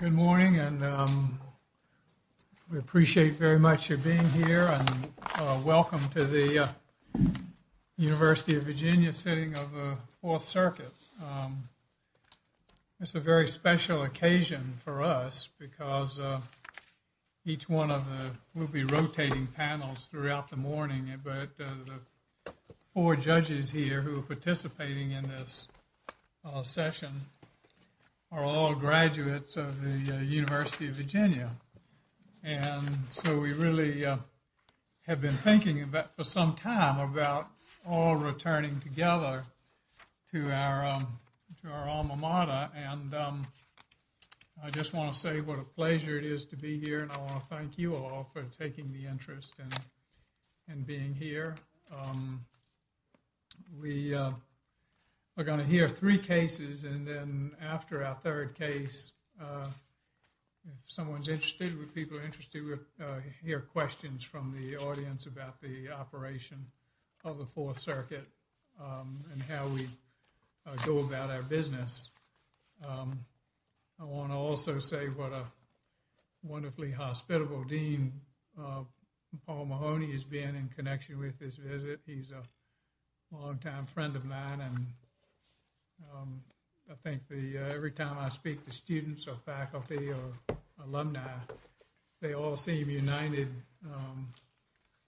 Good morning and we appreciate very much your being here and welcome to the University of Virginia sitting of the Fourth Circuit. It's a very special occasion for us because each one of the we'll be rotating panels throughout the session are all graduates of the University of Virginia and so we really have been thinking about for some time about all returning together to our alma mater and I just want to say what a pleasure it is to be here and I want to thank you all for taking the interest in being here. We are going to hear three cases and then after our third case if someone's interested, if people are interested, we'll hear questions from the audience about the operation of the Fourth Circuit and how we go about our business. I want to also say what a wonderfully hospitable Dean Paul Mahoney has been in connection with this visit. He's a longtime friend of mine and I think the every time I speak to students or faculty or alumni they all seem united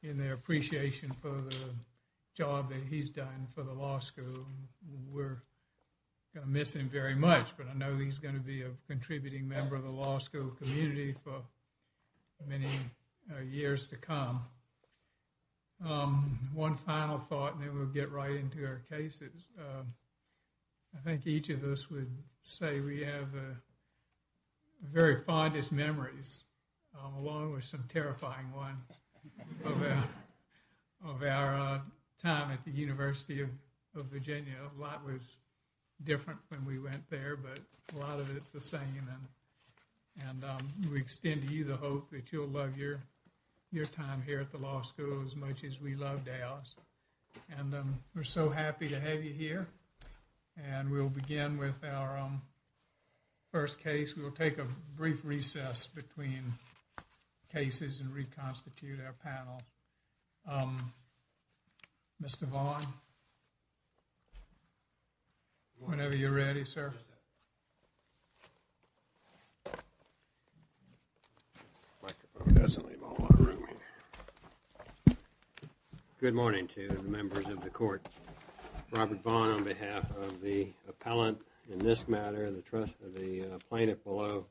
in their appreciation for the job that he's done for the law school. We're gonna miss him very much but I know he's going to be a contributing member of the law school community for many years to come. One final thought and then we'll get right into our cases. I think each of us would say we have very fondest memories along with some terrifying ones of our time at the University of Virginia. A lot was different when we went there but a lot of it's the same and we extend to you the hope that you'll love your time here at the law school as much as we loved ours and we're so happy to have you here and we'll begin with our first case. We will take a brief recess between cases and reconstitute our panel. Mr. Vaughan, whenever you're Good morning to the members of the court. Robert Vaughn on behalf of the appellant in this matter and the trust of the plaintiff below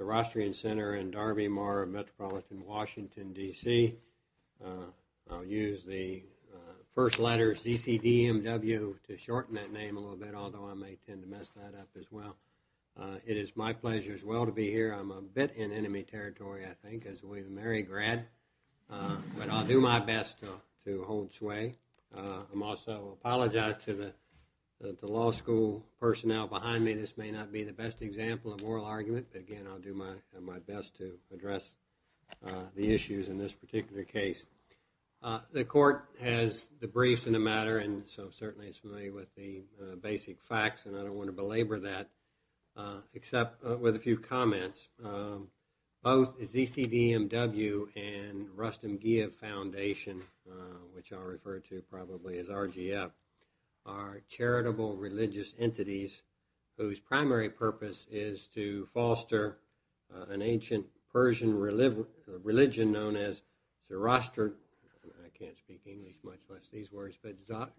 Sorostrian Center and Darby Moore of Metropolitan Washington DC. I'll use the first letter CCDMW to shorten that name a little bit although I may tend to mess that up as well. It is my pleasure as well to be here. I'm a bit in enemy territory I think as we married grad but I'll do my best to hold sway. I'm also apologize to the law school personnel behind me. This may not be the best example of moral argument but again I'll do my best to address the issues in this particular case. The court has the briefs in the matter and so certainly it's familiar with the basic facts and I don't want to belabor that except with a few comments. Both CCDMW and Rustem Giyev Foundation, which I'll refer to probably as RGF, are charitable religious entities whose primary purpose is to foster an ancient Persian religion known as Zoroastrianism. I can't speak English much less these words but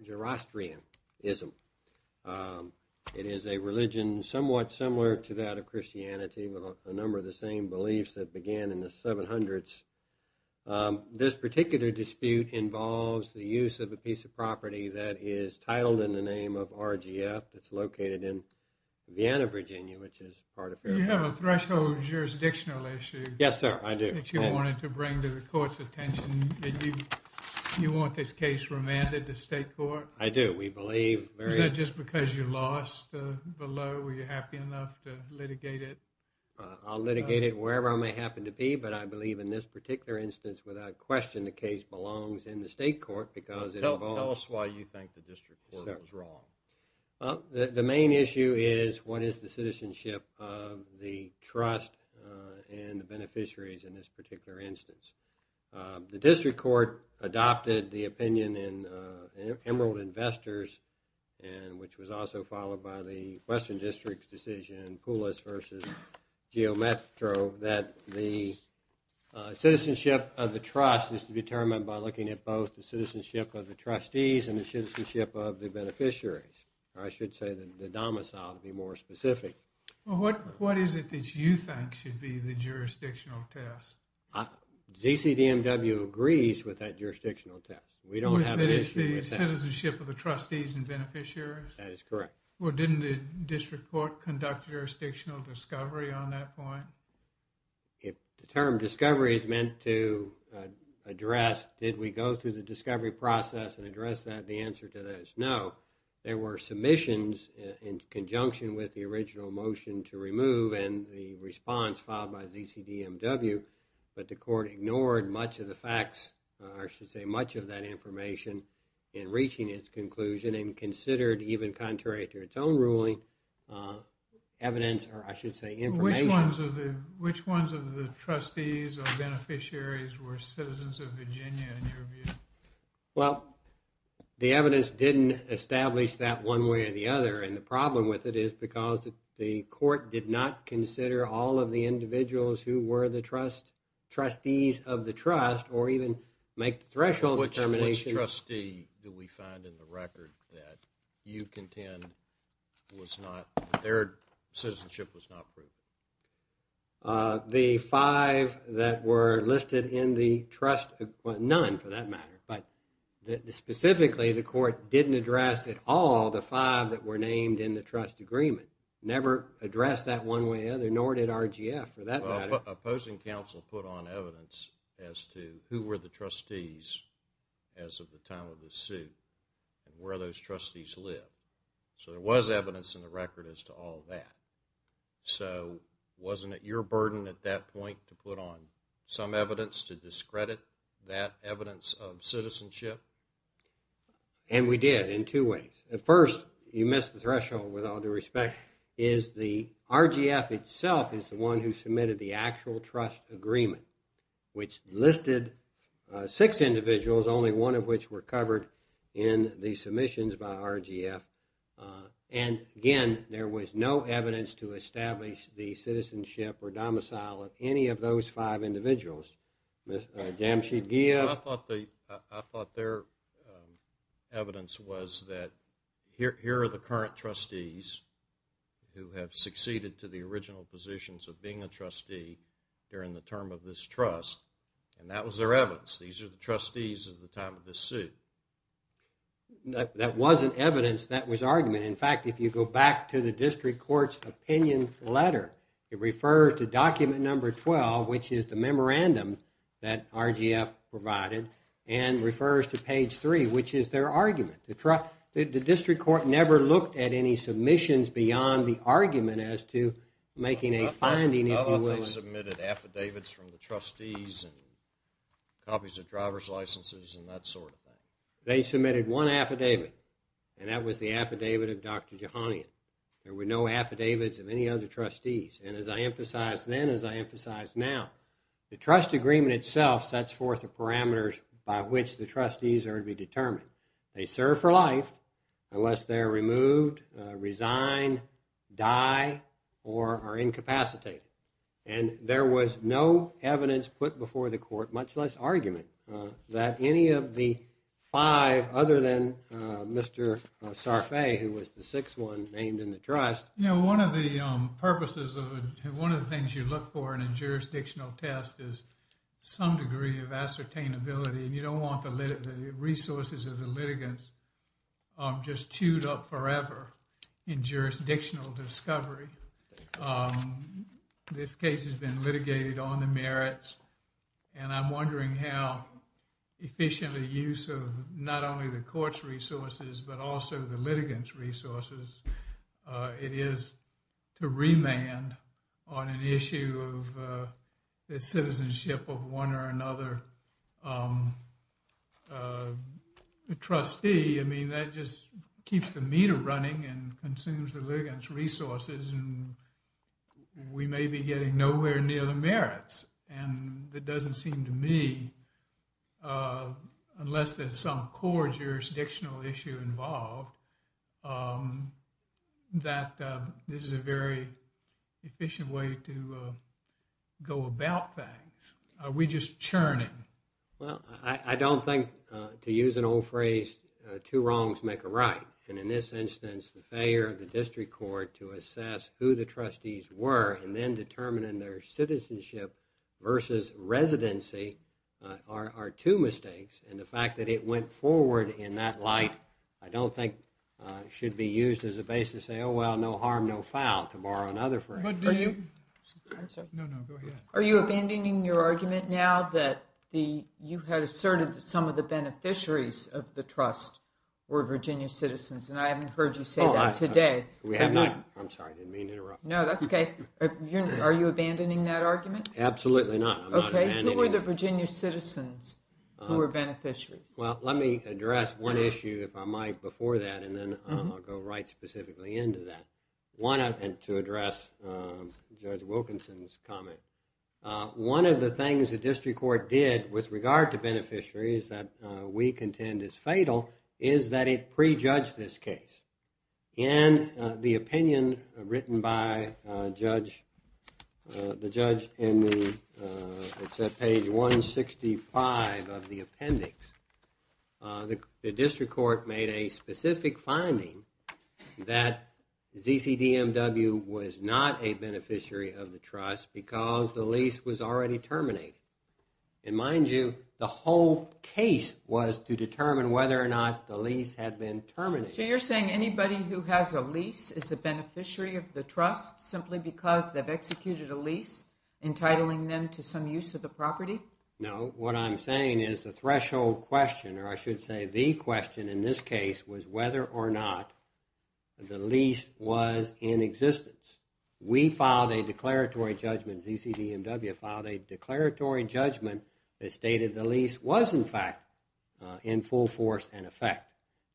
Zoroastrianism. It is a Christianity with a number of the same beliefs that began in the 700s. This particular dispute involves the use of a piece of property that is titled in the name of RGF that's located in Vienna, Virginia which is part of. You have a threshold jurisdictional issue. Yes sir I do. That you wanted to bring to the court's attention. You want this case remanded to state court? I do. We believe Is that just because you lost the law? Were you happy enough to litigate it? I'll litigate it wherever I may happen to be but I believe in this particular instance without question the case belongs in the state court because it involves. Tell us why you think the district court was wrong. The main issue is what is the citizenship of the trust and the beneficiaries in this particular instance. The district court adopted the opinion in Emerald Investors and which was also followed by the Western District's decision in Poulos versus Geo Metro that the citizenship of the trust is to be determined by looking at both the citizenship of the trustees and the citizenship of the beneficiaries. I should say the domicile to be more specific. What is it that you think should be the jurisdictional test? ZCDMW agrees with that jurisdictional test. We don't have an issue with that. Citizenship of the trustees and beneficiaries? That is correct. Well didn't the district court conduct jurisdictional discovery on that point? If the term discovery is meant to address did we go through the discovery process and address that the answer to that is no. There were submissions in conjunction with the original motion to remove and the response filed by ZCDMW but the court ignored much of the facts or should say much of that information in reaching its conclusion and considered even contrary to its own ruling evidence or I should say information. Which ones of the which ones of the trustees or beneficiaries were citizens of Virginia in your view? Well the evidence didn't establish that one way or the other and the problem with it is because the court did not consider all of the individuals who were the trust trustees of the trust or even make the threshold determination. Which trustee do we find in the record that you contend was not their citizenship was not proved? The five that were listed in the trust, well none for that matter, but the specifically the court didn't address at all the five that were named in the trust agreement. Never addressed that one way or the other nor did RGF for that matter. Opposing counsel put on evidence as to who were the trustees as of the time of the suit and where those trustees live. So there was evidence in the record as to all that. So wasn't it your burden at that point to put on some evidence to discredit that evidence of citizenship? And we did in two ways. At first you missed the threshold with all due respect is the RGF itself is the one who submitted the actual trust agreement which listed six individuals only one of which were covered in the submissions by RGF and again there was no evidence to establish the citizenship or domicile of any of those five individuals. I thought their evidence was that here are the current trustees who have succeeded to the original positions of being a trustee during the term of this trust and that was their evidence. These are the trustees at the time of this suit. That wasn't evidence that was argument. In fact if you go back to the district court's opinion letter it refers to document number 12 which is the memorandum that RGF provided and refers to page 3 which is their argument. The district court never looked at any submissions beyond the argument as to making a finding. I thought they submitted affidavits from the trustees and copies of driver's licenses and that sort of thing. They submitted one affidavit and that was the affidavit of Dr. Jehanian. There were no affidavits of any other trustees and as I emphasized then as I emphasize now the trust agreement itself sets forth the parameters by which the trustees are to be determined. They serve for life unless they're removed, resign, die or are incapacitated and there was no evidence put before the court much less argument that any of the five other than Mr. Sarfay who was the sixth one named in the trust you know one of the purposes of one of the things you look for in a jurisdictional test is some degree of ascertainability and you don't want the resources of the litigants just chewed up forever in jurisdictional discovery. This case has been litigated on the merits and I'm wondering how efficiently use of not only the court's resources but also the litigants resources it is to remand on an issue of the citizenship of one or another trustee. I mean that just keeps the meter running and consumes the litigants resources and we may be getting nowhere near the merits and that doesn't seem to me unless there's some core jurisdictional issue involved that this is a very efficient way to go about things. Are we just churning? Well, I don't think to use an old phrase two wrongs make a right and in this instance the failure of the district court to assess who the trustees were and then determining their citizenship versus residency are two mistakes and the fact that it went forward in that light I don't think should be used as a base to say oh well no harm no foul to borrow another phrase. Are you abandoning your argument now that you had asserted that some of the beneficiaries of the trust were Virginia citizens and I haven't heard you say that today. We have not. I'm sorry I didn't mean to interrupt. No, that's okay. Are you abandoning that argument? Absolutely not. I'm not abandoning it. Well, let me address one issue if I might before that and then I'll go right specifically into that one and to address Judge Wilkinson's comment. One of the things the district court did with regard to beneficiaries that we contend is fatal is that it prejudged this case. In the opinion written by the judge in the page 165 of the appendix the district court made a specific finding that ZCDMW was not a beneficiary of the trust because the lease was already terminated and mind you the whole case was to determine whether or not the lease had been terminated. So you're saying anybody who has a lease is a beneficiary of the trust simply because they've executed a lease entitling them to some use of the property? No, what I'm saying is the threshold question or I should say the question in this case was whether or not the lease was in existence. We filed a declaratory judgment, ZCDMW filed a declaratory judgment that stated the lease was in fact in full force and effect.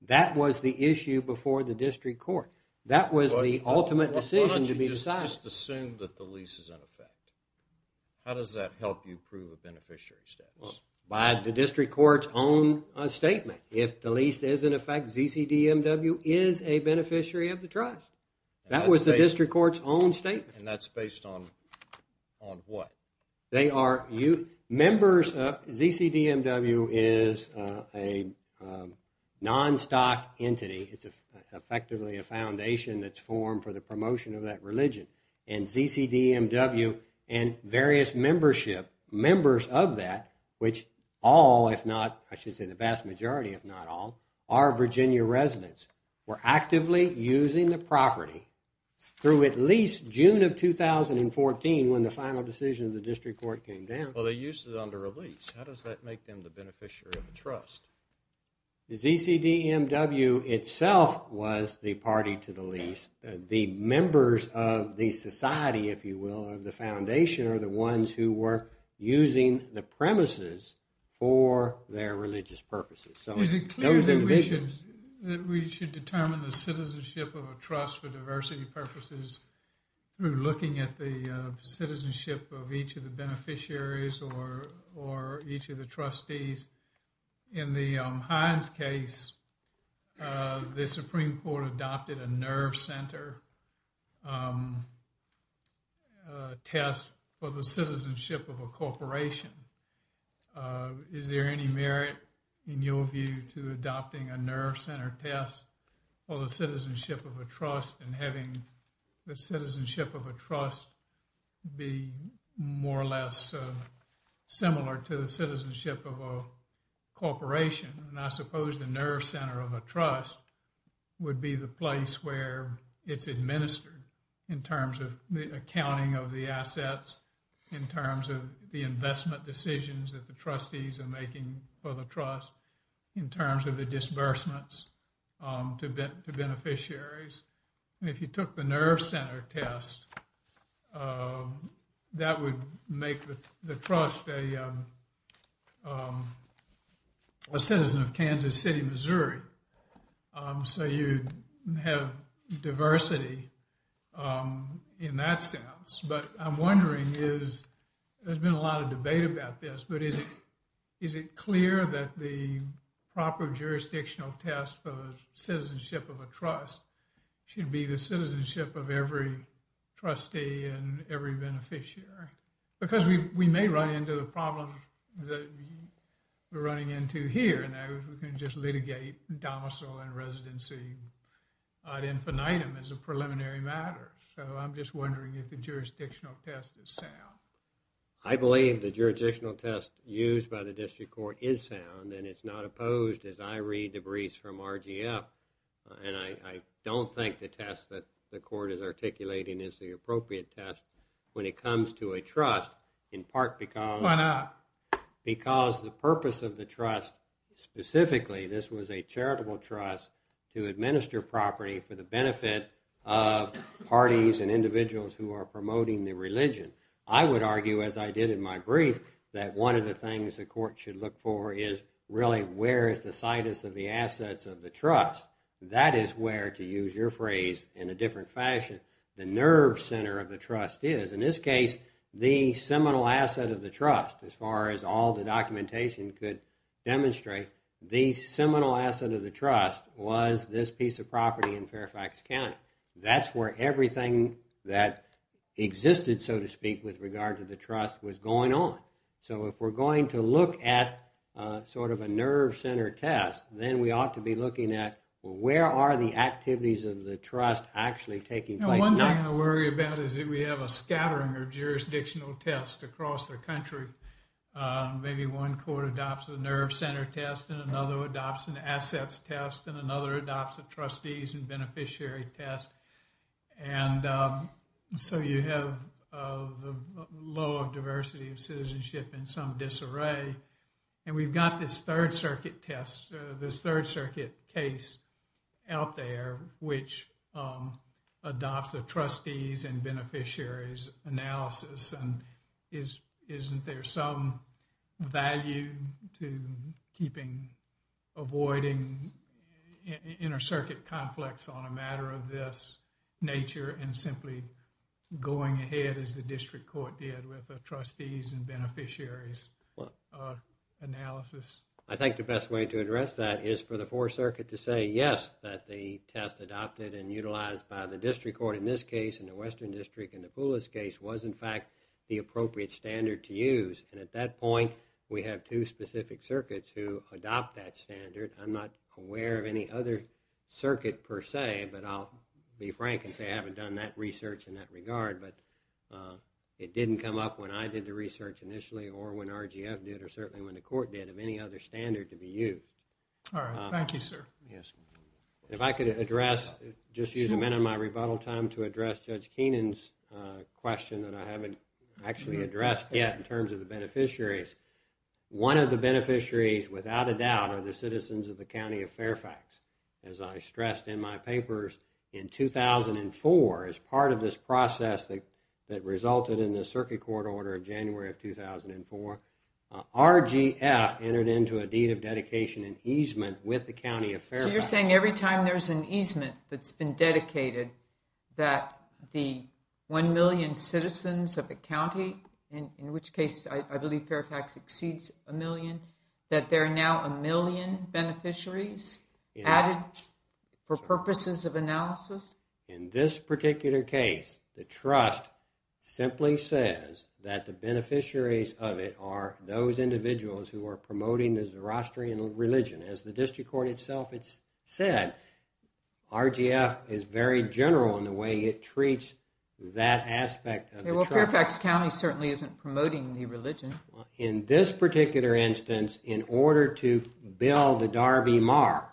That was the issue before the district court. That was the ultimate decision to be decided. Just assume that the lease is in effect. How does that help you prove a beneficiary status? By the district court's own statement. If the lease is in effect, ZCDMW is a beneficiary of the trust. That was the district court's own statement. And that's based on what? ZCDMW is a non-stock entity. It's effectively a foundation that's formed for the promotion of that religion. And ZCDMW and various members of that, which all if not, I should say the vast majority if not all, are Virginia residents. Were actively using the property through at least June of 2014 when the final decision of the district court came down. Well, they used it under a lease. How does that make them the beneficiary of the trust? ZCDMW itself was the party to the lease. The members of the society, if you will, of the foundation are the ones who were using the premises for their religious purposes. Is it clear that we should determine the citizenship of a trust for diversity purposes through looking at the citizenship of each of the beneficiaries or each of the trustees? In the Hines case, the Supreme Court adopted a nerve center test for the citizenship of a corporation. Is there any merit in your view to adopting a nerve center test for the citizenship of a trust and having the citizenship of a trust be more or less similar to the citizenship of a corporation? And I suppose the nerve center of a trust would be the place where it's administered in terms of the accounting of the assets, in terms of the investment decisions that the trustees are making for the trust, in terms of the disbursements to beneficiaries. If you took the nerve center test, that would make the trust a citizen of Kansas City, Missouri. So you'd have diversity in that sense. But I'm wondering, there's been a lot of debate about this, but is it clear that the proper jurisdictional test for the citizenship of a trust should be the citizenship of every trustee and every beneficiary? Because we may run into the problem that we're running into here, and that is we can just litigate domicile and residency ad infinitum as a preliminary matter. So I'm just wondering if the jurisdictional test is sound. I believe the jurisdictional test used by the district court is sound, and it's not opposed, as I read the briefs from RGF. And I don't think the test that the court is articulating is the appropriate test when it comes to a trust, in part because the purpose of the trust, specifically, this was a charitable trust to administer property for the benefit of parties and individuals who are promoting the religion. I would argue, as I did in my brief, that one of the things the court should look for is, really, where is the situs of the assets of the trust? That is where, to use your phrase in a different fashion, the nerve center of the trust is. In this case, the seminal asset of the trust, as far as all the documentation could demonstrate, the seminal asset of the trust was this piece of property in Fairfax County. That's where everything that existed, so to speak, with regard to the trust was going on. So, if we're going to look at sort of a nerve center test, then we ought to be looking at where are the activities of the trust actually taking place? One thing to worry about is that we have a scattering of jurisdictional tests across the country. Maybe one court adopts a nerve center test, and another adopts an assets test, and another adopts a trustees and beneficiary test. And so, you have the law of diversity of citizenship in some disarray, and we've got this third circuit test, this third circuit case out there, which adopts a trustees and beneficiaries analysis. And isn't there some value to avoiding inter-circuit conflicts on a matter of this nature and simply going ahead, as the district court did, with a trustees and beneficiaries analysis? I think the best way to address that is for the fourth circuit to say, yes, that the test adopted and utilized by the district court in this case, in the Western District, in the Poulos case, was, in fact, the appropriate standard to use. And at that point, we have two specific circuits who adopt that standard. I'm not aware of any other circuit, per se, but I'll be frank and say I haven't done that research in that regard. But it didn't come up when I did the research initially, or when RGF did, or certainly when the court did, of any other standard to be used. All right. Thank you, sir. Yes. If I could address, just use a minute of my rebuttal time to address Judge Keenan's question that I haven't actually addressed yet in terms of the beneficiaries. One of the beneficiaries, without a doubt, are the citizens of the County of Fairfax. As I stressed in my papers in 2004, as part of this process that resulted in the circuit court order of January of 2004, RGF entered into a deed of dedication and easement with the County of Fairfax. So you're saying every time there's an easement that's been dedicated, that the one million citizens of the county, in which case I believe Fairfax exceeds a million, that there are now a million beneficiaries added for purposes of analysis? In this particular case, the trust simply says that the beneficiaries of it are those individuals who are promoting the Zoroastrian religion. As the district court itself said, RGF is very general in the way it treats that aspect of the trust. Well, Fairfax County certainly isn't promoting the religion. In this particular instance, in order to build the Darby Mar,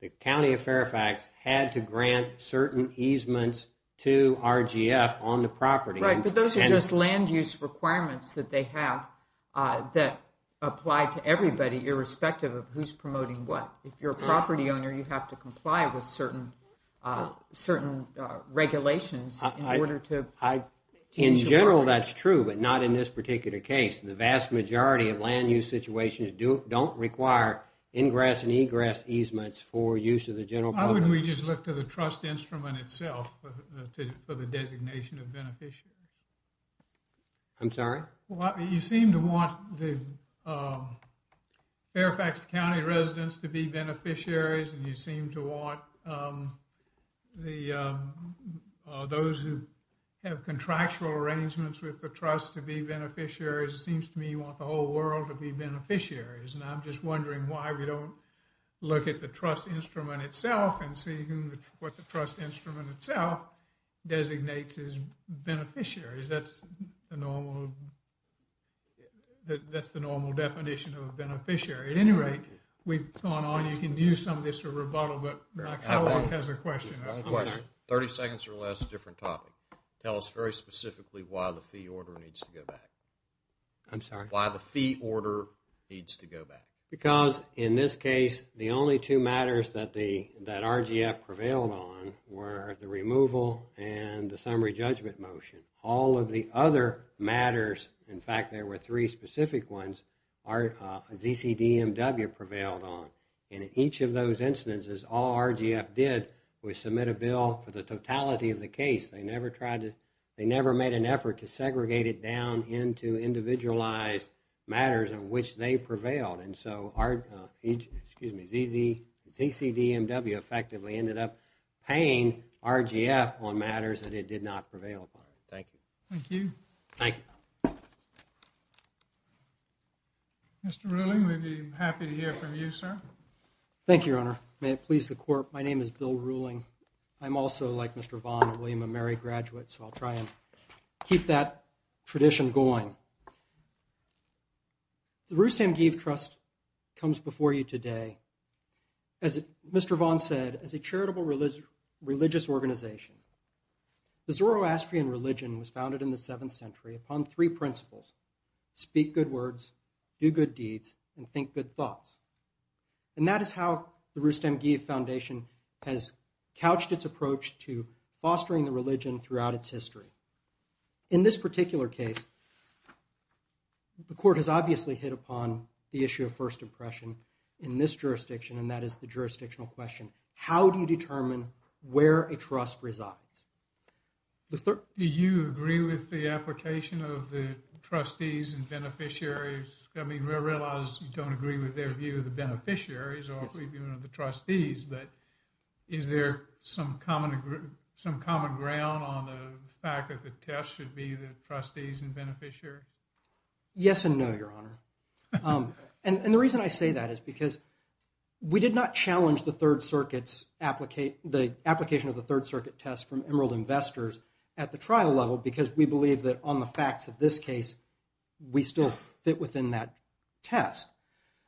the County of Fairfax had to grant certain easements to RGF on the property. Right, but those are just land use requirements that they have that apply to everybody, irrespective of who's promoting what. If you're a property owner, you have to comply with certain regulations in order to... In general, that's true, but not in this particular case. The vast majority of land use situations don't require ingress and egress easements for use of the general... Why wouldn't we just look to the trust instrument itself for the designation of beneficiaries? I'm sorry? You seem to want the Fairfax County residents to be beneficiaries, and you seem to want those who have contractual arrangements with the trust to be beneficiaries. It seems to me you want the whole world to be beneficiaries, and I'm just wondering why we don't look at the trust instrument itself and see what the trust instrument itself designates as beneficiaries. That's the normal definition of a beneficiary. At any rate, we've gone on. You can use some of this for rebuttal, but my coworker has a question. 30 seconds or less, different topic. Tell us very specifically why the fee order needs to go back. I'm sorry? Why the fee order needs to go back. Because in this case, the only two matters that RGF prevailed on were the removal and the summary judgment motion. All of the other matters, in fact there were three specific ones, ZCDMW prevailed on. In each of those instances, all RGF did was submit a bill for the totality of the case. They never made an effort to segregate it down into individualized matters in which they prevailed. And so ZCDMW effectively ended up paying RGF on matters that it did not prevail upon. Thank you. Thank you. Thank you. Mr. Ruling, we'd be happy to hear from you, sir. Thank you, your honor. May it please the court. My name is Bill Ruling. I'm also, like Mr. Vaughn, a William & Mary graduate, so I'll try and keep that tradition going. The Roostam-Gieve Trust comes before you today, as Mr. Vaughn said, as a charitable religious organization. The Zoroastrian religion was founded in the 7th century upon three principles, speak good words, do good deeds, and think good thoughts. And that is how the Roostam-Gieve Foundation has couched its approach to fostering the religion throughout its history. In this particular case, the court has obviously hit upon the issue of first impression in this jurisdiction, and that is the jurisdictional question. How do you determine where a trust resides? Do you agree with the application of the trustees and beneficiaries? I mean, I realize you don't agree with their view of the beneficiaries or the trustees, but is there some common ground on the fact that the test should be the trustees and beneficiary? Yes and no, your honor. And the reason I say that is because we did not challenge the Third Circuit's application of the Third Circuit test from Emerald Investors at the trial level, because we believe that on the facts of this case, we still fit within that test.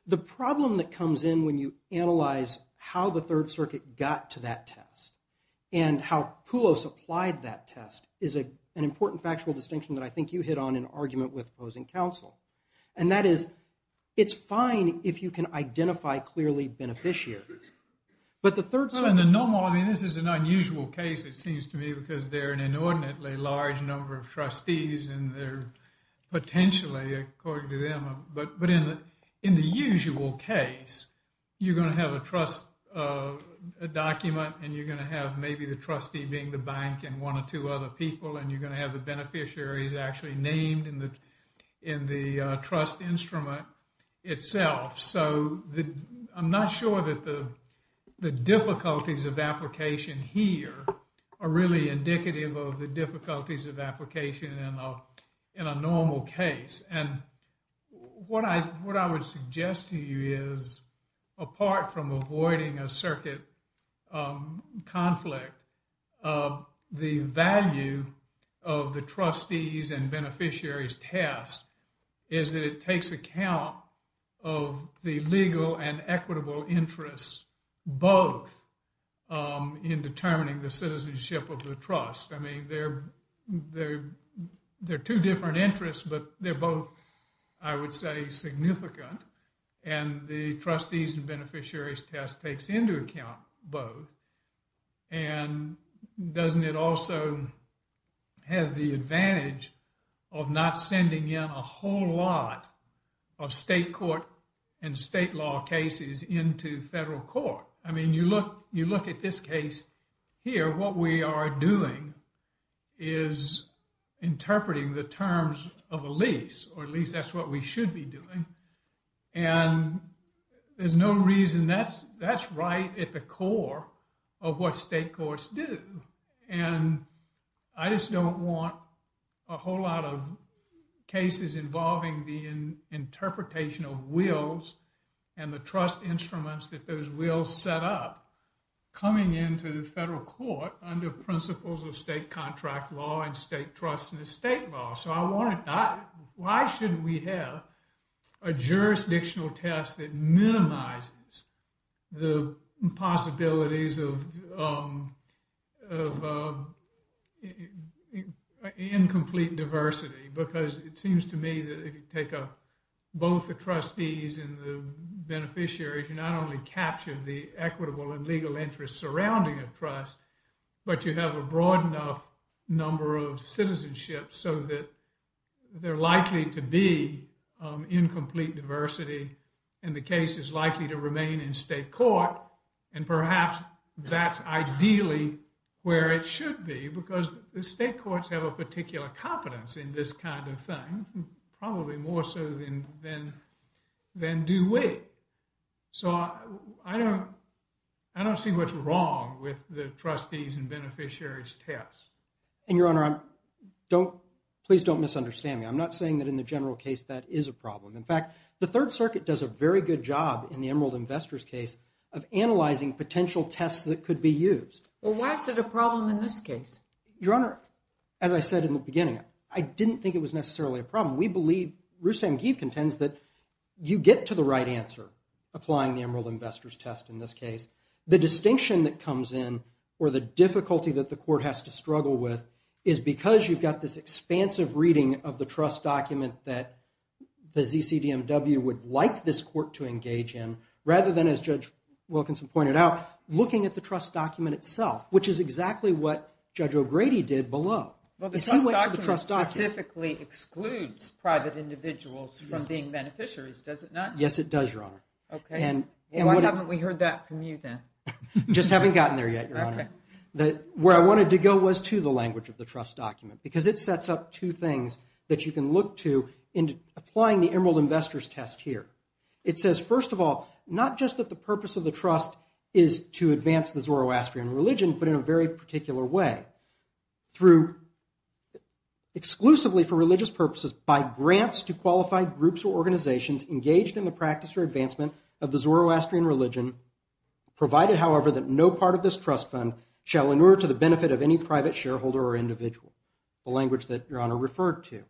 The problem that comes in when you analyze how the Third Circuit got to that test and how PULO supplied that test is an important factual distinction that I think you hit on in argument with opposing counsel. And that is, it's fine if you can identify clearly beneficiaries, but the Third Circuit... Well, in the normal, I mean, this is an unusual case, it seems to me, because they're an inordinately large number of trustees and they're potentially, according to them, but in the usual case, you're going to have a trust document and you're going to have maybe the trustee being the bank and one or two other people and you're going to have the beneficiaries actually named in the trust instrument itself. So, I'm not sure that the difficulties of application here are really indicative of the difficulties of application in a normal case. And what I would suggest to you is, apart from avoiding a circuit conflict, the value of the trustees and beneficiaries test is that it takes account of the legal and equitable interests both in determining the citizenship of the trust. I mean, they're two different interests, but they're both, I would say, significant. And the trustees and beneficiaries test takes into account both. And doesn't it also have the advantage of not sending in a whole lot of state court and state law cases into federal court? I mean, you look at this case here, what we are doing is interpreting the terms of a lease, or at least that's what we should be doing. And there's no reason that's right at the core of what state courts do. And I just don't want a whole lot of cases involving the interpretation of wills and the trust instruments that those wills set up coming into the federal court under principles of state contract law and state trust and estate law. So why shouldn't we have a jurisdictional test that minimizes the possibilities of incomplete diversity? Because it seems to me that if you take up both the trustees and the beneficiaries, you not only capture the equitable and legal interests surrounding a trust, but you have a broad enough number of citizenship so that they're likely to be incomplete diversity, and the case is likely to remain in state court. And perhaps that's ideally where it should be, because the state courts have a particular competence in this kind of thing, probably more so than do we. So I don't see what's wrong with the trustees and beneficiaries tests. And Your Honor, please don't misunderstand me. I'm not saying that in the general case that is a problem. In fact, the Third Circuit does a very good job in the Emerald Investors case of analyzing potential tests that could be used. Well, why is it a problem in this case? Your Honor, as I said in the beginning, I didn't think it was necessarily a problem. We believe, Rustam Geve contends, that you get to the right answer applying the Emerald Investors test in this case. The distinction that comes in, or the difficulty that the court has to struggle with, is because you've got this expansive reading of the trust document that the ZCDMW would like this court to engage in, rather than, as Judge Wilkinson pointed out, looking at the trust document itself, which is exactly what Judge O'Grady did below. Well, the trust document specifically excludes private individuals from being beneficiaries, does it not? Yes, it does, Your Honor. Okay, why haven't we heard that from you then? Just haven't gotten there yet, Your Honor. Where I wanted to go was to the language of the trust document, because it sets up two things that you can look to in applying the Emerald Investors test here. It says, first of all, not just that the purpose of the trust is to advance the Zoroastrian religion, but in a very particular way. Exclusively for religious purposes, by grants to qualified groups or organizations engaged in the practice or advancement of the Zoroastrian religion, provided, however, that no part of this trust fund shall inure to the benefit of any private shareholder or individual, the language that Your Honor referred to.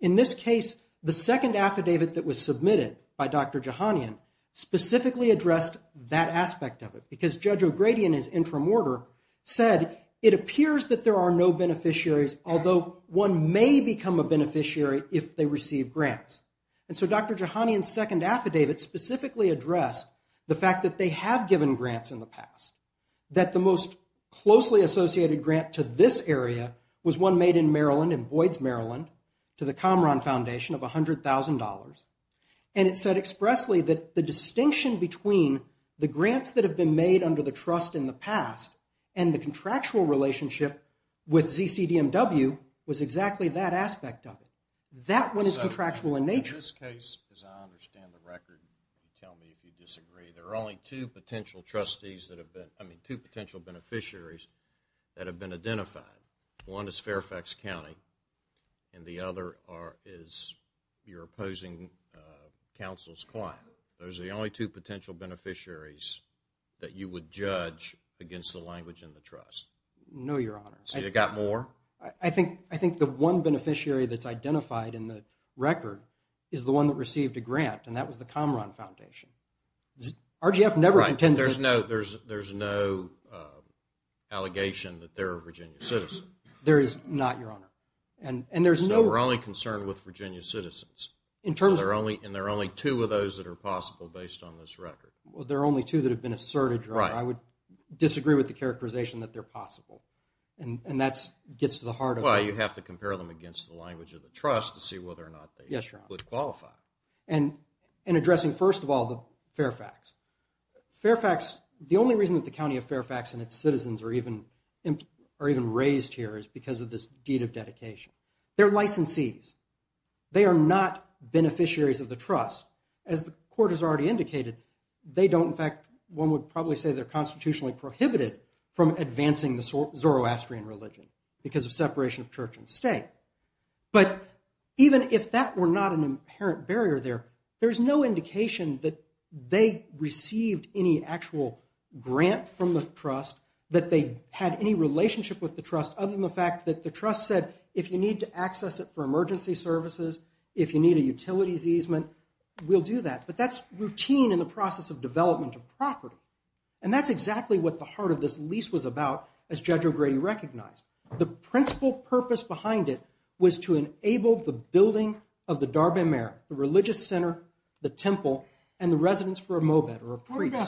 In this case, the second affidavit that was submitted by Dr. Jahanian specifically addressed that aspect of it, because Judge O'Grady in his interim order said, it appears that there are no beneficiaries, although one may become a beneficiary if they receive grants. And so Dr. Jahanian's second affidavit specifically addressed the fact that they have given grants in the past, that the most closely associated grant to this area was one made in Maryland, in Boyd's, Maryland, to the Comron Foundation of $100,000. And it said expressly that the distinction between the grants that have been made under the trust in the past and the contractual relationship with ZCDMW was exactly that aspect of it. That one is contractual in nature. In this case, as I understand the record, you can tell me if you disagree, there are only two potential beneficiaries that have been identified. One is Fairfax County, and the other is your opposing counsel's client. Those are the only two potential beneficiaries that you would judge against the language in the trust. No, Your Honor. So you got more? I think the one beneficiary that's identified in the record is the one that received a grant, and that was the Comron Foundation. RGF never intends to... There's no allegation that they're a Virginia citizen. There is not, Your Honor. We're only concerned with Virginia citizens, and there are only two of those that are possible based on this record. There are only two that have been asserted, Your Honor. I would disagree with the characterization that they're possible, and that gets to the heart of it. Well, you have to compare them against the language of the trust to see whether or not they would qualify. And addressing, first of all, the Fairfax. Fairfax, the only reason that the County of Fairfax and its citizens are even raised here is because of this deed of dedication. They're licensees. They are not beneficiaries of the trust. As the court has already indicated, they don't, in fact, one would probably say they're constitutionally prohibited from advancing the Zoroastrian religion because of separation of church and state. But even if that were not an apparent barrier there, there's no indication that they received any actual grant from the trust, that they had any relationship with the trust other than the fact that the trust said, if you need to access it for emergency services, if you need a utilities easement, we'll do that. But that's routine in the process of development of property, and that's exactly what the heart of this lease was about, as Judge O'Grady recognized. The principal purpose behind it was to enable the building of the Darbin Merit, the religious center, the temple, and the residence for a mobet, or a priest. What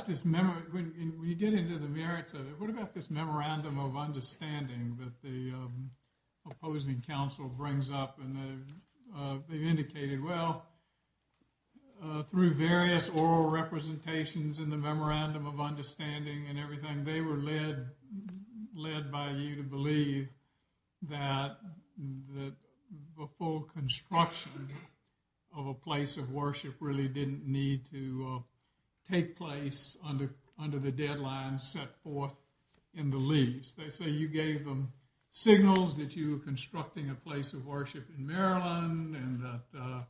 about this memorandum of understanding that the opposing counsel brings up? And they've indicated, well, through various oral representations in the memorandum of that the full construction of a place of worship really didn't need to take place under the deadline set forth in the lease. They say you gave them signals that you were constructing a place of worship in Maryland, and that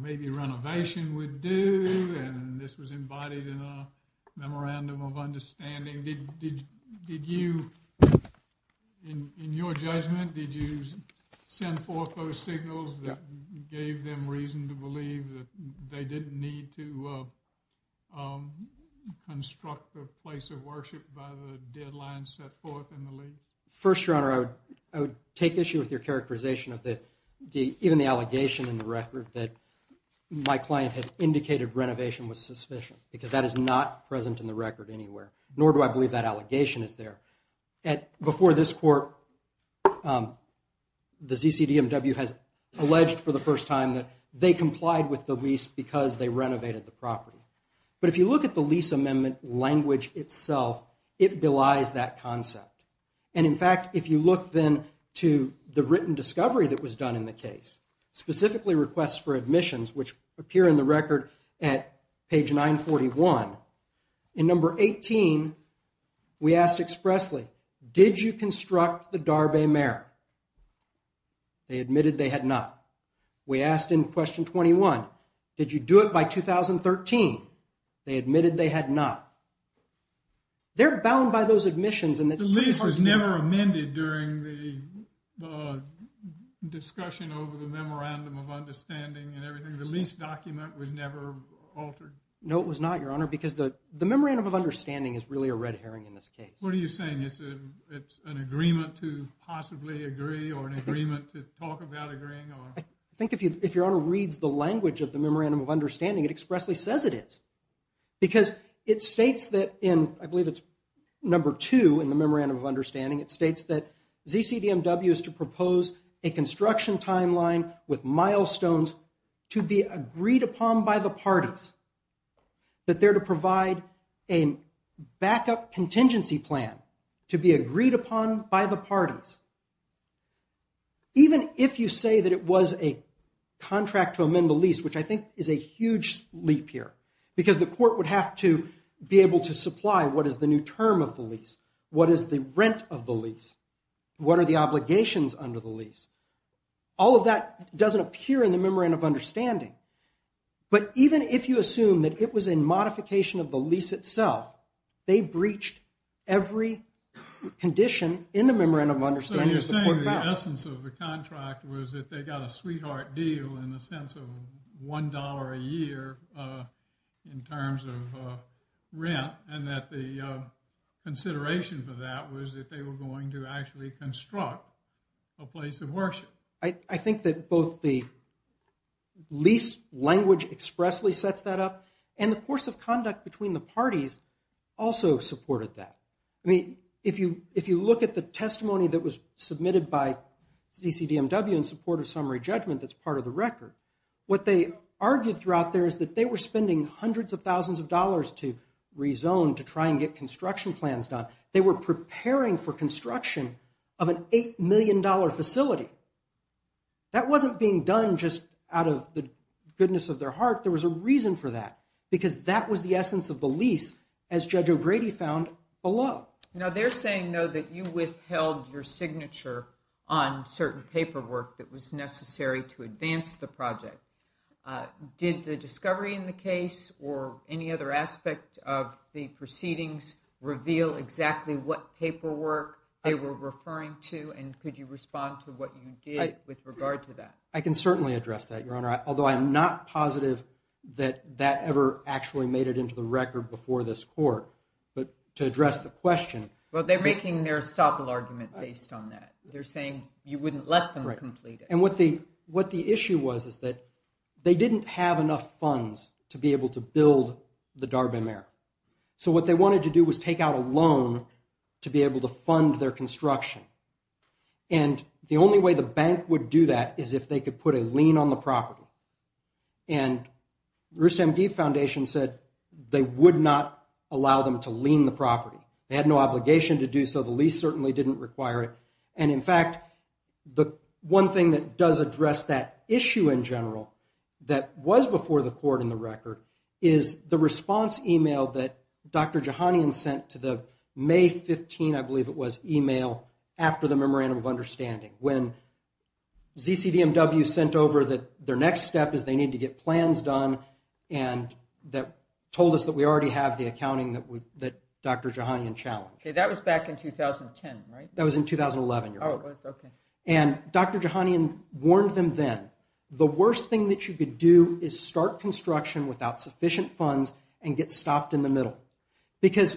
maybe renovation would do, and this was embodied in a memorandum of understanding. Did you, in your judgment, did you send forth those signals that gave them reason to believe that they didn't need to construct a place of worship by the deadline set forth in the lease? First, Your Honor, I would take issue with your characterization of even the allegation in the record that my client had indicated renovation was sufficient, because that is not present in the record anywhere, nor do I believe that allegation is there. Before this court, the ZCDMW has alleged for the first time that they complied with the lease because they renovated the property. But if you look at the lease amendment language itself, it belies that concept. And in fact, if you look then to the written discovery that was done in the case, specifically requests for admissions, which appear in the record at page 941, in number 18, we asked expressly, did you construct the Darbay Mare? They admitted they had not. We asked in question 21, did you do it by 2013? They admitted they had not. They're bound by those admissions. The lease was never amended during the discussion over the memorandum of understanding and everything? The lease document was never altered? No, it was not, Your Honor, because the memorandum of understanding is really a red herring in this case. What are you saying? It's an agreement to possibly agree or an agreement to talk about agreeing? I think if Your Honor reads the language of the memorandum of understanding, it expressly says it is. Because it states that in, I believe it's number two in the memorandum of understanding, it states that ZCDMW is to propose a construction timeline with milestones to be agreed upon by the parties, that they're to provide a backup contingency plan to be agreed upon by the parties. Even if you say that it was a contract to amend the lease, which I think is a huge leap here, because the court would have to be able to supply what is the new term of the lease, what is the rent of the lease, what are the obligations under the lease, all of that doesn't appear in the memorandum of understanding. But even if you assume that it was a modification of the lease itself, they breached every condition in the memorandum of understanding that the court found. So you're saying the essence of the contract was that they got a sweetheart deal in the dollar a year in terms of rent, and that the consideration for that was that they were going to actually construct a place of worship. I think that both the lease language expressly sets that up, and the course of conduct between the parties also supported that. I mean, if you look at the testimony that was submitted by ZCDMW in support of summary record, what they argued throughout there is that they were spending hundreds of thousands of dollars to rezone to try and get construction plans done. They were preparing for construction of an $8 million facility. That wasn't being done just out of the goodness of their heart. There was a reason for that, because that was the essence of the lease, as Judge O'Grady found, below. Now, they're saying, though, that you withheld your signature on certain paperwork that was against the project. Did the discovery in the case or any other aspect of the proceedings reveal exactly what paperwork they were referring to, and could you respond to what you did with regard to that? I can certainly address that, Your Honor, although I am not positive that that ever actually made it into the record before this court. But to address the question— Well, they're making their estoppel argument based on that. They're saying you wouldn't let them complete it. What the issue was is that they didn't have enough funds to be able to build the Darbin Mare. So what they wanted to do was take out a loan to be able to fund their construction. The only way the bank would do that is if they could put a lien on the property. RoostMD Foundation said they would not allow them to lien the property. They had no obligation to do so. The lease certainly didn't require it. And in fact, the one thing that does address that issue in general that was before the court in the record is the response email that Dr. Jahanian sent to the May 15, I believe it was, email after the memorandum of understanding. When ZCDMW sent over that their next step is they need to get plans done and that told us that we already have the accounting that Dr. Jahanian challenged. That was back in 2010, right? That was in 2011. And Dr. Jahanian warned them then, the worst thing that you could do is start construction without sufficient funds and get stopped in the middle. Because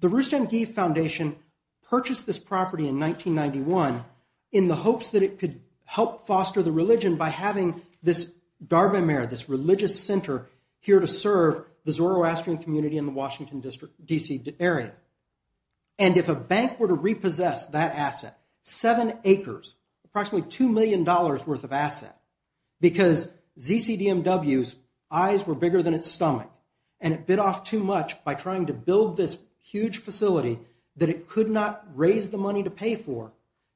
the RoostMD Foundation purchased this property in 1991 in the hopes that it could help foster the religion by having this Darbin Mare, this religious center here to serve the Zoroastrian community in the Washington D.C. area. And if a bank were to repossess that asset, seven acres, approximately $2 million worth of asset, because ZCDMW's eyes were bigger than its stomach and it bid off too much by trying to build this huge facility that it could not raise the money to pay for,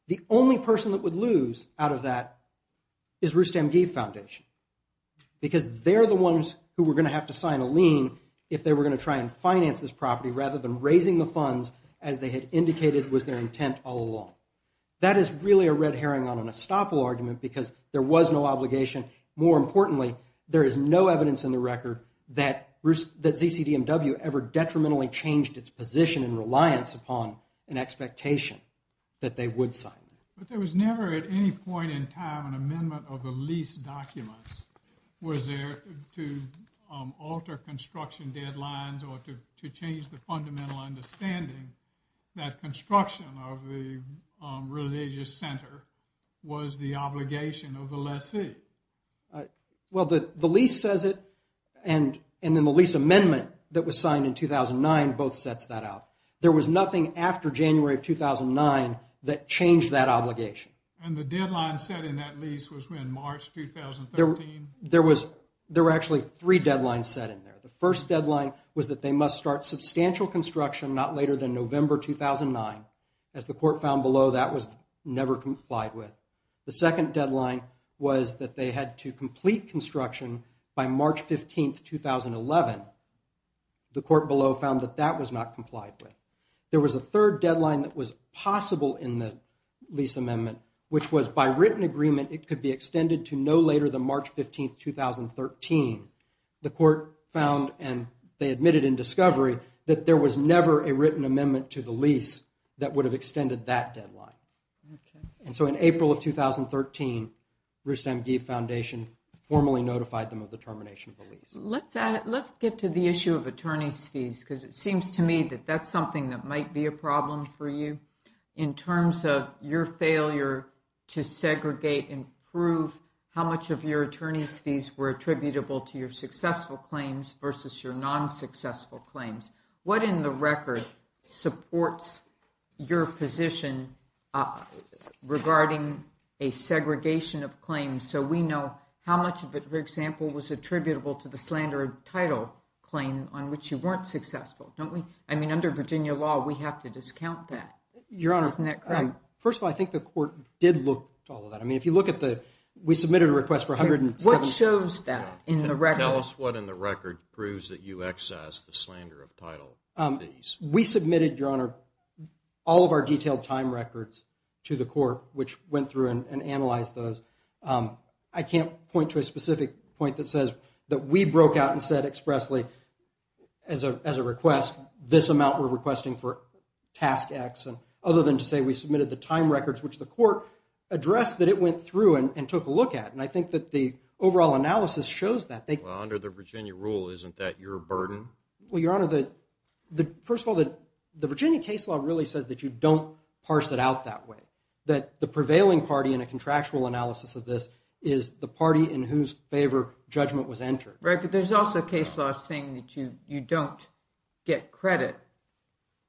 the only person that would lose out of that is RoostMD Foundation. Because they're the ones who were going to have to sign a lien if they were going to finance this property rather than raising the funds as they had indicated was their intent all along. That is really a red herring on an estoppel argument because there was no obligation. More importantly, there is no evidence in the record that ZCDMW ever detrimentally changed its position and reliance upon an expectation that they would sign. But there was never at any point in time an amendment of the lease documents was there to alter construction deadlines or to change the fundamental understanding that construction of the religious center was the obligation of the lessee. Well, the lease says it and then the lease amendment that was signed in 2009 both sets that out. There was nothing after January of 2009 that changed that obligation. And the deadline set in that lease was in March 2013? There were actually three deadlines set in there. The first deadline was that they must start substantial construction not later than November 2009. As the court found below, that was never complied with. The second deadline was that they had to complete construction by March 15, 2011. The court below found that that was not complied with. There was a third deadline that was possible in the lease amendment, which was by written agreement, it could be extended to no later than March 15, 2013. The court found, and they admitted in discovery, that there was never a written amendment to the lease that would have extended that deadline. And so in April of 2013, Rustam Geeve Foundation formally notified them of the termination of the lease. Let's get to the issue of attorney's fees because it seems to me that that's something that might be a problem for you. In terms of your failure to segregate and prove how much of your attorney's fees were attributable to your successful claims versus your non-successful claims, what in the record supports your position regarding a segregation of claims so we know how much of it, for example, was attributable to the slander title claim on which you weren't successful? Don't we? I mean, under Virginia law, we have to discount that. Your Honor, first of all, I think the court did look at all of that. I mean, if you look at the, we submitted a request for $170,000. What shows that in the record? Tell us what in the record proves that you excessed the slander of title fees. We submitted, Your Honor, all of our detailed time records to the court, which went through and analyzed those. I can't point to a specific point that says that we broke out and said expressly as a request, this amount we're requesting for task X, other than to say we submitted the time records, which the court addressed that it went through and took a look at. And I think that the overall analysis shows that. Well, under the Virginia rule, isn't that your burden? Well, Your Honor, first of all, the Virginia case law really says that you don't parse it out that way. That the prevailing party in a contractual analysis of this is the party in whose favor judgment was entered. But there's also a case law saying that you don't get credit.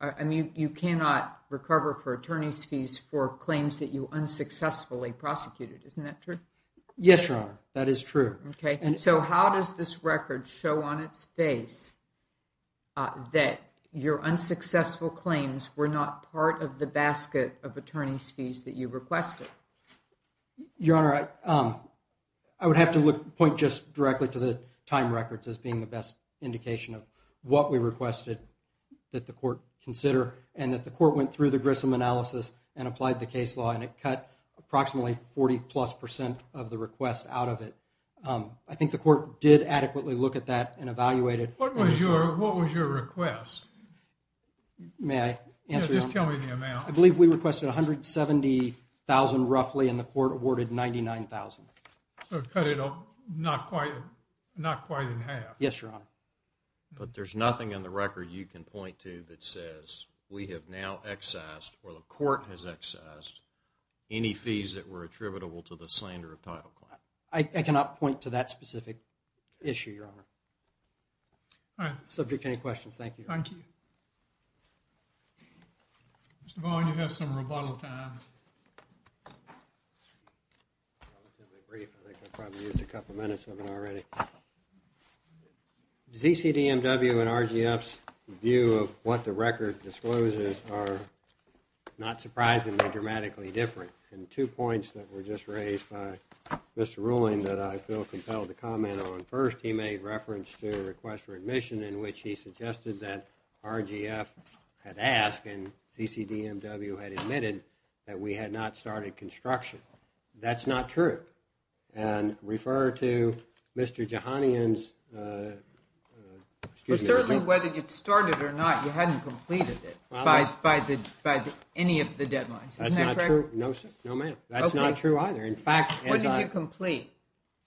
I mean, you cannot recover for attorney's fees for claims that you unsuccessfully prosecuted. Isn't that true? Yes, Your Honor. That is true. Okay. So how does this record show on its face that your unsuccessful claims were not part of the basket of attorney's fees that you requested? Your Honor, I would have to point just directly to the time records as being the best indication of what we requested that the court consider. And that the court went through the Grissom analysis and applied the case law. And it cut approximately 40 plus percent of the request out of it. I think the court did adequately look at that and evaluated. What was your request? May I answer? Just tell me the amount. I believe we requested $170,000 roughly and the court awarded $99,000. So it cut it up not quite in half. Yes, Your Honor. But there's nothing in the record you can point to that says we have now excised or the court has excised any fees that were attributable to the slander of title claim. I cannot point to that specific issue, Your Honor. All right. Subject to any questions. Thank you. Thank you. Mr. Bowen, you have some rebuttal time. ZCDMW and RGF's view of what the record discloses are not surprising but dramatically different. And two points that were just raised by Mr. Ruling that I feel compelled to comment on. First, he made reference to a request for admission in which he suggested that RGF had asked and ZCDMW had admitted that we had not started construction. That's not true. And refer to Mr. Jahanian's... Well, certainly whether you started or not, you hadn't completed it by any of the deadlines. Isn't that correct? No, ma'am. That's not true either. In fact, as I... What did you complete?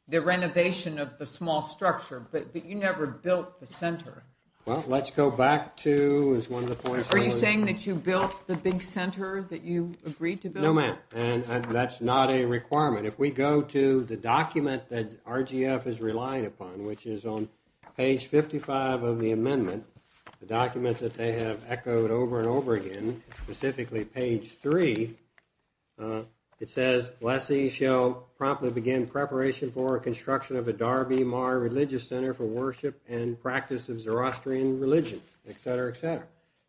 The renovation of the small structure, but you never built the center. Well, let's go back to one of the points... Are you saying that you built the big center that you agreed to build? No, ma'am. And that's not a requirement. If we go to the document that RGF is relying upon, which is on page 55 of the amendment, the document that they have echoed over and over again, specifically page 3, it says, lessee shall promptly begin preparation for construction of a Darby Marr Religious Center for worship and practice of Zoroastrian religion, et cetera, et cetera.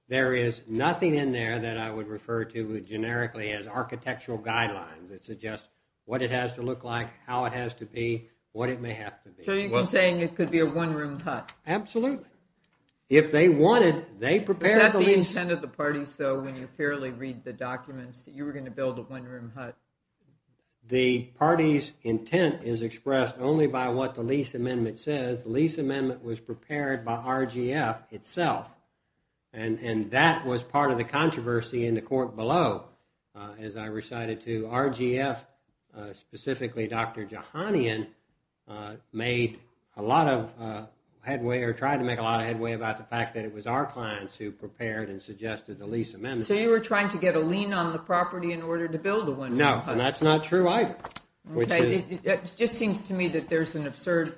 There is nothing in there that I would refer to generically as architectural guidelines. It suggests what it has to look like, how it has to be, what it may have to be. So you're saying it could be a one-room hut? Absolutely. If they wanted, they prepared... Is that the intent of the parties, though, when you fairly read the documents, that you were going to build a one-room hut? The party's intent is expressed only by what the lease amendment says. The lease amendment was prepared by RGF itself. And that was part of the controversy in the court below, as I recited to RGF. Specifically, Dr. Jahanian made a lot of headway or tried to make a lot of headway about the fact that it was our clients who prepared and suggested the lease amendment. So you were trying to get a lien on the property in order to build a one-room hut? No, and that's not true either. It just seems to me that there's an absurd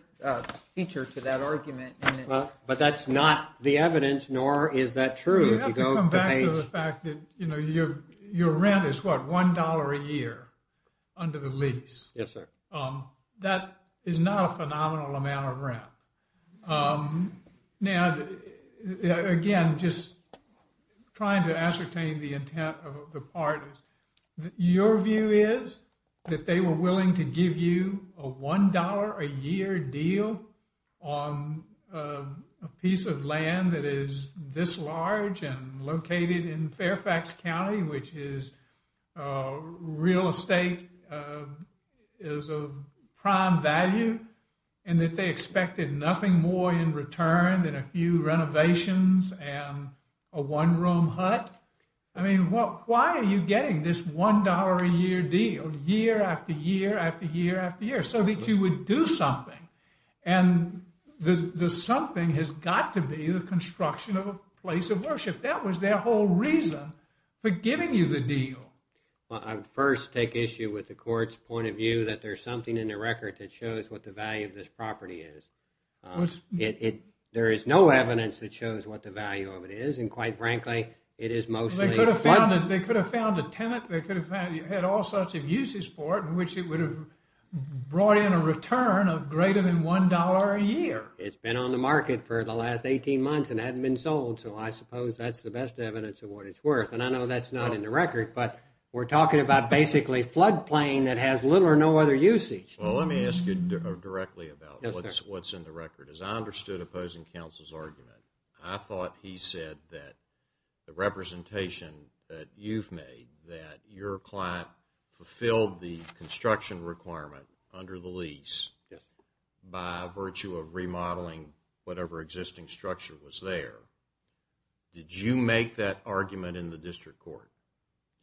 feature to that argument. But that's not the evidence, nor is that true. You have to come back to the fact that your rent is, what, $1 a year under the lease? Yes, sir. That is not a phenomenal amount of rent. Now, again, just trying to ascertain the intent of the parties. Your view is that they were willing to give you a $1 a year deal on a piece of land that is this large and located in Fairfax County, which is real estate, is of prime value, and that they expected nothing more in return than a few renovations and a one-room hut? I mean, why are you getting this $1 a year deal year after year after year after year so that you would do something? And the something has got to be the construction of a place of worship. That was their whole reason for giving you the deal. I first take issue with the court's point of view that there's something in the record that shows what the value of this property is. There is no evidence that shows what the value of it is. And quite frankly, it is mostly a flood. They could have found a tenant. They could have had all sorts of uses for it, in which it would have brought in a return of greater than $1 a year. It's been on the market for the last 18 months and hadn't been sold. So I suppose that's the best evidence of what it's worth. And I know that's not in the record, but we're talking about basically floodplain that has little or no other usage. Well, let me ask you directly about what's in the record. As I understood opposing counsel's argument, I thought he said that the representation that you've made, that your client fulfilled the construction requirement under the lease by virtue of remodeling whatever existing structure was there. Did you make that argument in the district court?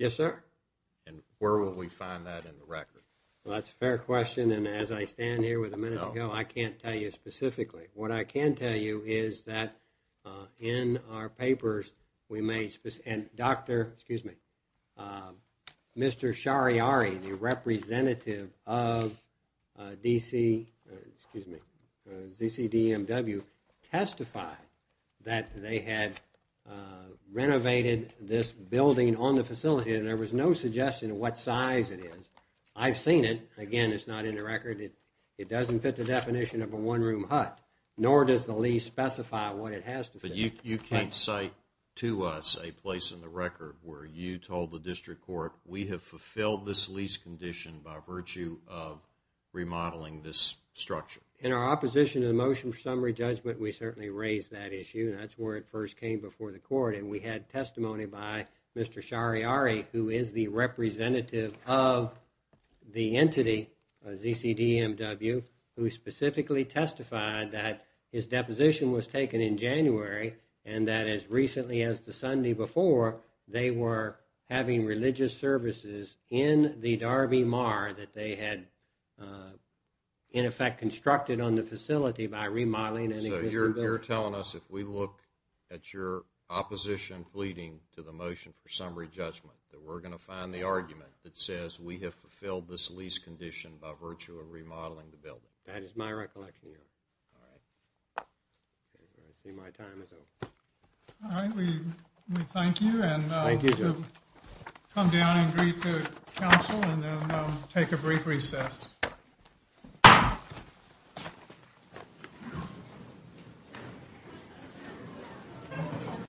And where will we find that in the record? Well, that's a fair question. And as I stand here with a minute to go, I can't tell you specifically. What I can tell you is that in our papers, we made and doctor, excuse me, Mr. Shariari, the representative of DC, excuse me, ZCDMW testified that they had renovated this building on the facility. And there was no suggestion of what size it is. I've seen it. Again, it's not in the record. It doesn't fit the definition of a one-room hut, nor does the lease specify what it has to fit. But you can't cite to us a place in the record where you told the district court, we have fulfilled this lease condition by virtue of remodeling this structure. In our opposition to the motion for summary judgment, we certainly raised that issue. And that's where it first came before the court. And we had testimony by Mr. Shariari, who is the representative of the entity, ZCDMW, who specifically testified that his deposition was taken in January. And that as recently as the Sunday before, they were having religious services in the Darby Mar that they had in effect constructed on the facility by remodeling. And so you're telling us if we look at your opposition, pleading to the motion for summary judgment, that we're going to find the argument that says we have fulfilled this lease condition by virtue of remodeling the building. That is my recollection, your honor. All right, I see my time is over. All right, we thank you. And thank you to come down and greet the council and then take a brief recess.